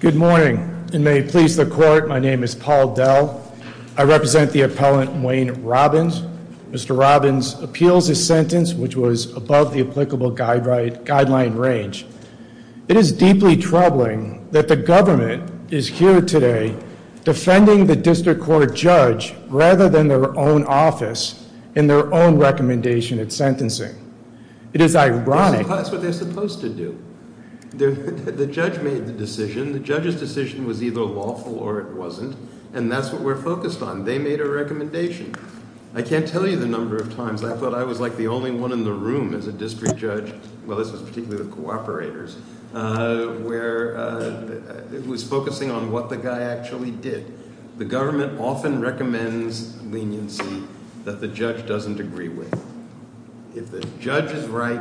Good morning and may it please the court. My name is Paul Dell. I represent the appellant Wayne Robbins. Mr. Robbins appeals his sentence, which was above the applicable guideline for the United States v. Robbins. It is deeply troubling that the government is here today defending the district court judge rather than their own office in their own recommendation and sentencing. It is ironic. That's what they're supposed to do. The judge made the decision. The judge's decision was either lawful or it wasn't, and that's what we're focused on. They made a recommendation. I can't tell you the number of times I thought I was like the only one in the room as a district judge. Well, this was particularly the cooperators, where it was focusing on what the guy actually did. The government often recommends leniency that the judge doesn't agree with. If the judge is right,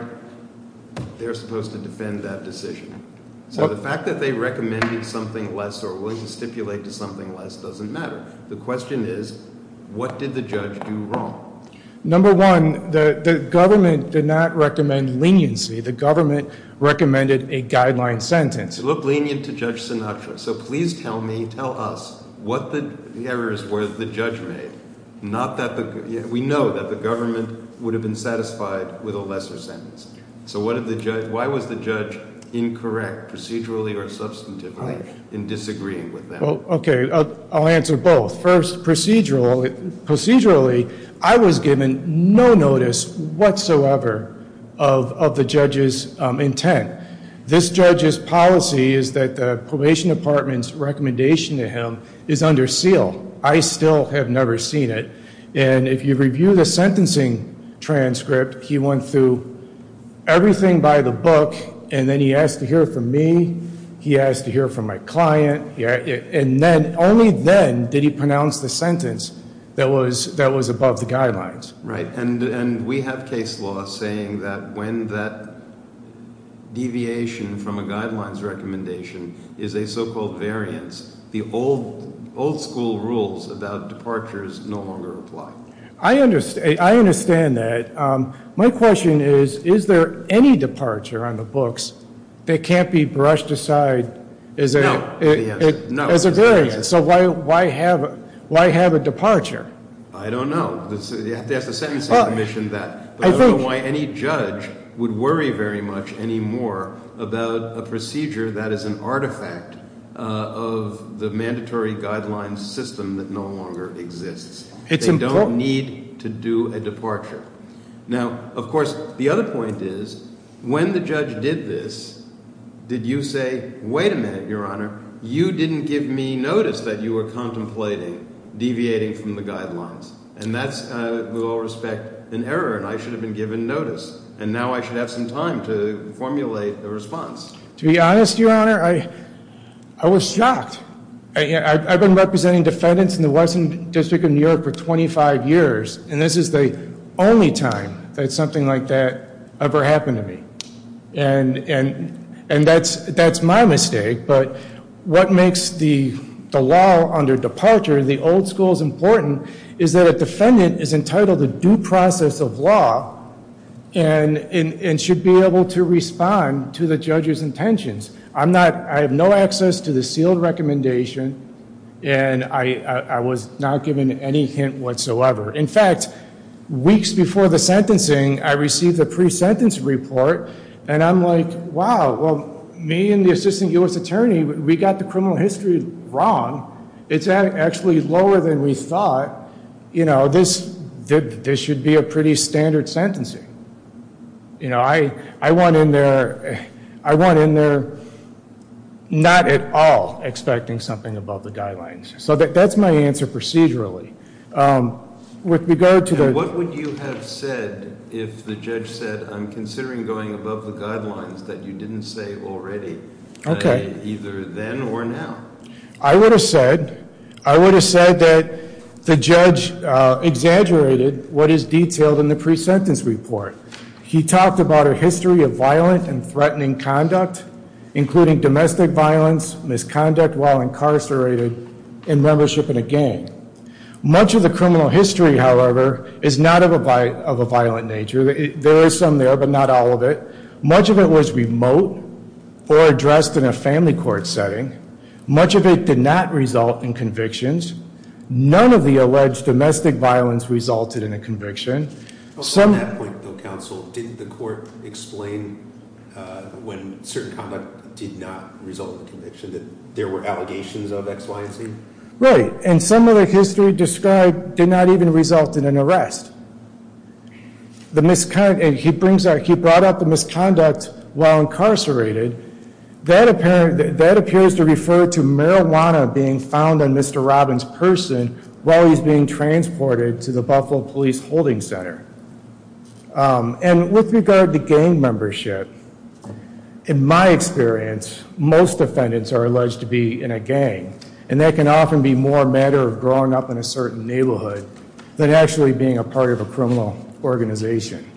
they're supposed to defend that decision. So the fact that they recommended something less or were willing to stipulate to something less doesn't matter. The question is, what did the judge do wrong? Number one, the government did not recommend leniency. The government recommended a guideline sentence. You look lenient to Judge Sinatra. So please tell me, tell us, what the errors were that the judge made. We know that the government would have been satisfied with a lesser sentence. So why was the judge incorrect, procedurally or substantively, in disagreeing with that? Okay, I'll answer both. First, procedurally, I was given no notice whatsoever of the judge's intent. This judge's policy is that the probation department's recommendation to him is under seal. I still have never seen it. And if you review the sentencing transcript, he went through everything by the book, and then he asked to hear it from me, he asked to hear it from my client. And only then did he pronounce the sentence that was above the guidelines. And we have case law saying that when that deviation from a guidelines recommendation is a so-called variance, the old school rules about departures no longer apply. I understand that. My question is, is there any departure on the books that can't be brushed aside as a variance? So why have a departure? I don't know. You have to ask the sentencing commission that. But I don't know why any judge would worry very much anymore about a procedure that is an artifact of the mandatory guidelines system that no longer exists. They don't need to do a departure. Now, of course, the other point is, when the judge did this, did you say, wait a minute, Your Honor, you didn't give me notice that you were contemplating deviating from the guidelines? And that's, with all respect, an error, and I should have been given notice. And now I should have some time to formulate a response. To be honest, Your Honor, I was shocked. I've been representing defendants in the Western District of New York for 25 years, and this is the only time that something like that ever happened to me. And that's my mistake. But what makes the law under departure, the old school's important, is that a defendant is entitled to due process of law and should be able to respond to the judge's intentions. I have no access to the sealed recommendation, and I was not given any hint whatsoever. In fact, weeks before the sentencing, I received a pre-sentence report, and I'm like, wow, well, me and the assistant U.S. attorney, we got the criminal history wrong. It's actually lower than we thought. This should be a pretty standard sentencing. You know, I went in there not at all expecting something above the guidelines. So that's my answer procedurally. With regard to the- What would you have said if the judge said, I'm considering going above the guidelines that you didn't say already? Okay. Either then or now? I would have said that the judge exaggerated what is detailed in the pre-sentence report. He talked about a history of violent and threatening conduct, including domestic violence, misconduct while incarcerated, and membership in a gang. Much of the criminal history, however, is not of a violent nature. There is some there, but not all of it. Much of it was remote or addressed in a family court setting. Much of it did not result in convictions. None of the alleged domestic violence resulted in a conviction. On that point, though, counsel, didn't the court explain when certain conduct did not result in conviction that there were allegations of X, Y, and Z? Right. And some of the history described did not even result in an arrest. He brought up the misconduct while incarcerated. That appears to refer to marijuana being found on Mr. Robbins' person while he's being transported to the Buffalo Police Holding Center. And with regard to gang membership, in my experience, most defendants are alleged to be in a gang. And that can often be more a matter of growing up in a certain neighborhood than actually being a part of a criminal organization.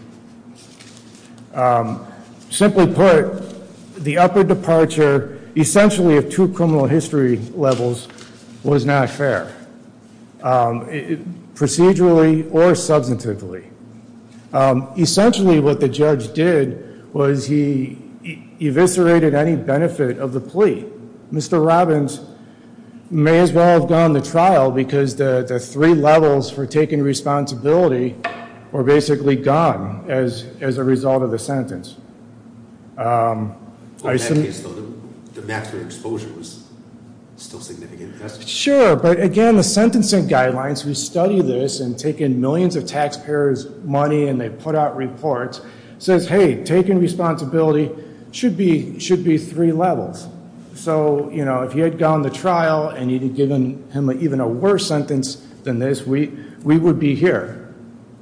Simply put, the upper departure, essentially of two criminal history levels, was not fair, procedurally or substantively. Essentially, what the judge did was he eviscerated any benefit of the plea. Mr. Robbins may as well have gone to trial because the three levels for taking responsibility were basically gone as a result of the sentence. On that case, though, the maximum exposure was still significant. Sure. But again, the sentencing guidelines, we study this and take in millions of taxpayers' money and they put out reports. It says, hey, taking responsibility should be three levels. So if he had gone to trial and you had given him even a worse sentence than this, we would be here.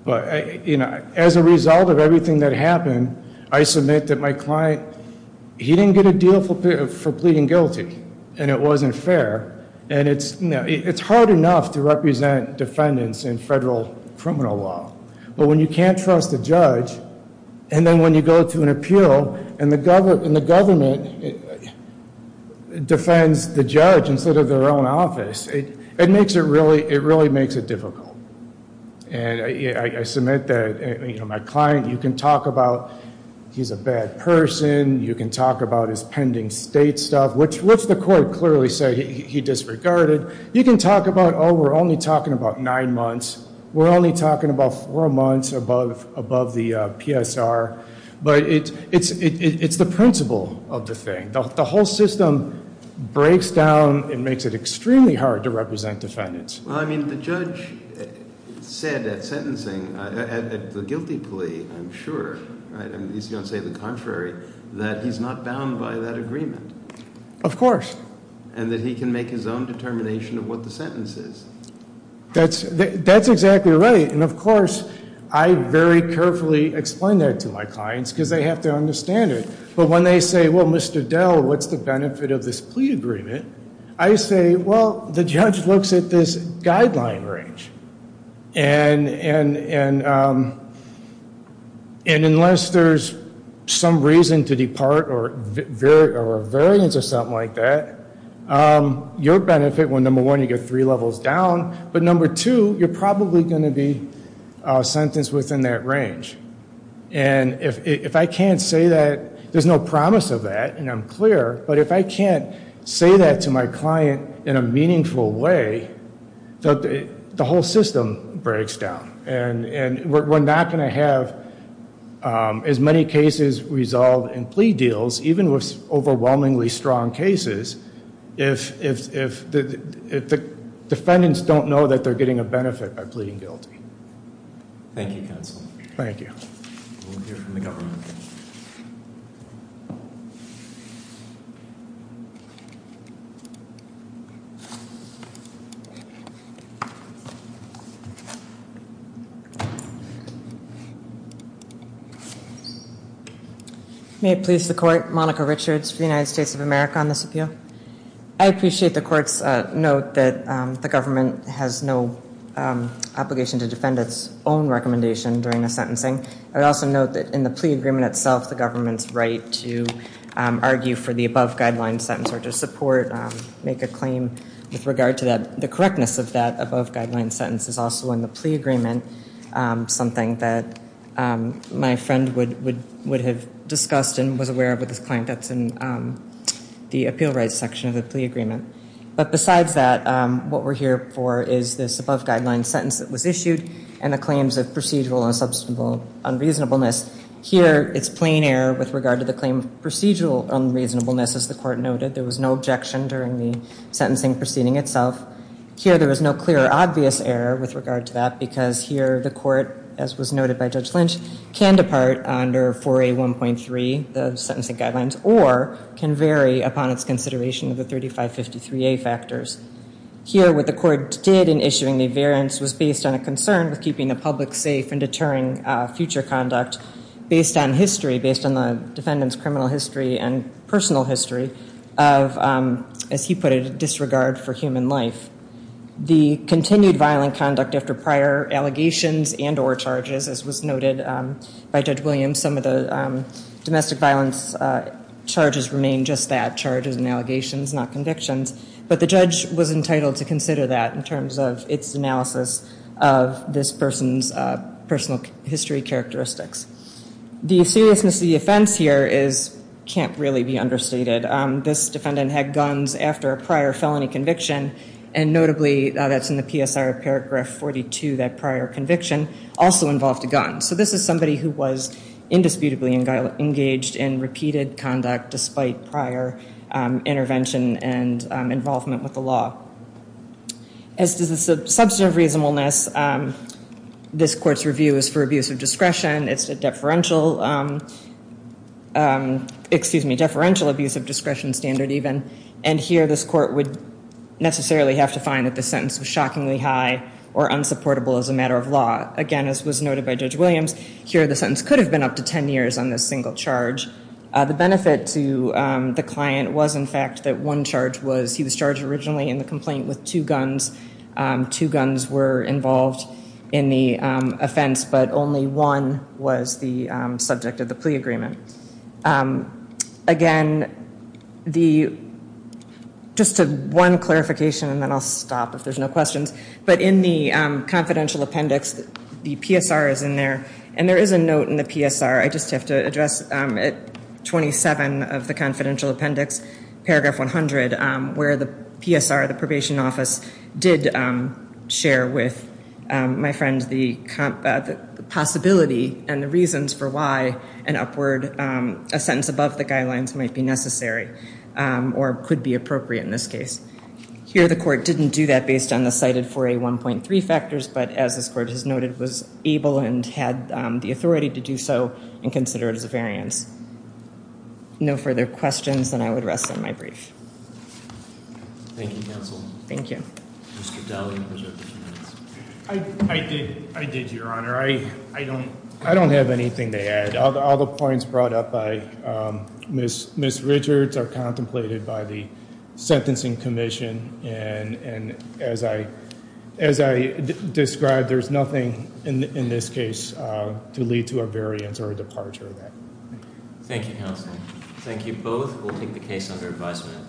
But as a result of everything that happened, I submit that my client, he didn't get a deal for pleading guilty. And it wasn't fair. And it's hard enough to represent defendants in federal criminal law. But when you can't trust a judge, and then when you go to an appeal and the government defends the judge instead of their own office, it really makes it difficult. And I submit that my client, you can talk about he's a bad person. You can talk about his pending state stuff, which the court clearly said he disregarded. You can talk about, oh, we're only talking about nine months. We're only talking about four months above the PSR. But it's the principle of the thing. The whole system breaks down and makes it extremely hard to represent defendants. Well, I mean, the judge said at sentencing, at the guilty plea, I'm sure, right? I mean, he's going to say the contrary, that he's not bound by that agreement. Of course. And that he can make his own determination of what the sentence is. That's exactly right. And, of course, I very carefully explain that to my clients because they have to understand it. But when they say, well, Mr. Dell, what's the benefit of this plea agreement? I say, well, the judge looks at this guideline range. And unless there's some reason to depart or a variance or something like that, your benefit, well, number one, you get three levels down. But number two, you're probably going to be sentenced within that range. And if I can't say that, there's no promise of that, and I'm clear, but if I can't say that to my client in a meaningful way, the whole system breaks down. And we're not going to have as many cases resolved in plea deals, even with overwhelmingly strong cases, if the defendants don't know that they're getting a benefit by pleading guilty. Thank you, counsel. Thank you. We'll hear from the government. May it please the court. Monica Richards for the United States of America on this appeal. I appreciate the court's note that the government has no obligation to defend its own recommendation during the sentencing. I would also note that in the plea agreement itself, the government's right to argue for the above guideline sentence or to support, make a claim with regard to that. The correctness of that above guideline sentence is also in the plea agreement, something that my friend would have discussed and was aware of with his client. That's in the appeal rights section of the plea agreement. But besides that, what we're here for is this above guideline sentence that was issued and the claims of procedural and substantial unreasonableness. Here, it's plain error with regard to the claim of procedural unreasonableness, as the court noted. There was no objection during the sentencing proceeding itself. Here, there was no clear or obvious error with regard to that because here the court, as was noted by Judge Lynch, can depart under 4A1.3, the sentencing guidelines, or can vary upon its consideration of the 3553A factors. Here, what the court did in issuing the variance was based on a concern with keeping the public safe and deterring future conduct based on history, based on the defendant's criminal history and personal history of, as he put it, disregard for human life. The continued violent conduct after prior allegations and or charges, as was noted by Judge Williams, some of the domestic violence charges remain just that, charges and allegations, not convictions. But the judge was entitled to consider that in terms of its analysis of this person's personal history characteristics. The seriousness of the offense here can't really be understated. This defendant had guns after a prior felony conviction, and notably, that's in the PSR paragraph 42, that prior conviction also involved a gun. So this is somebody who was indisputably engaged in repeated conduct despite prior intervention and involvement with the law. As to the substantive reasonableness, this court's review is for abuse of discretion. It's a deferential, excuse me, deferential abuse of discretion standard even. And here, this court would necessarily have to find that the sentence was shockingly high or unsupportable as a matter of law. Again, as was noted by Judge Williams, here the sentence could have been up to 10 years on this single charge. The benefit to the client was, in fact, that one charge was he was charged originally in the complaint with two guns. Two guns were involved in the offense, but only one was the subject of the plea agreement. Again, just one clarification, and then I'll stop if there's no questions. But in the confidential appendix, the PSR is in there, and there is a note in the PSR, I just have to address, at 27 of the confidential appendix, paragraph 100, where the PSR, the probation office, did share with my friend the possibility and the reasons for why an upward, a sentence above the guidelines might be necessary or could be appropriate in this case. Here, the court didn't do that based on the cited 4A1.3 factors, but as this court has noted, was able and had the authority to do so and consider it as a variance. If there's no further questions, then I would rest on my brief. Thank you, counsel. Thank you. Mr. Daly. I did, Your Honor. I don't have anything to add. All the points brought up by Ms. Richards are contemplated by the Sentencing Commission, and as I described, there's nothing in this case to lead to a variance or a departure of that. Thank you, counsel. Thank you both. We'll take the case under advisement.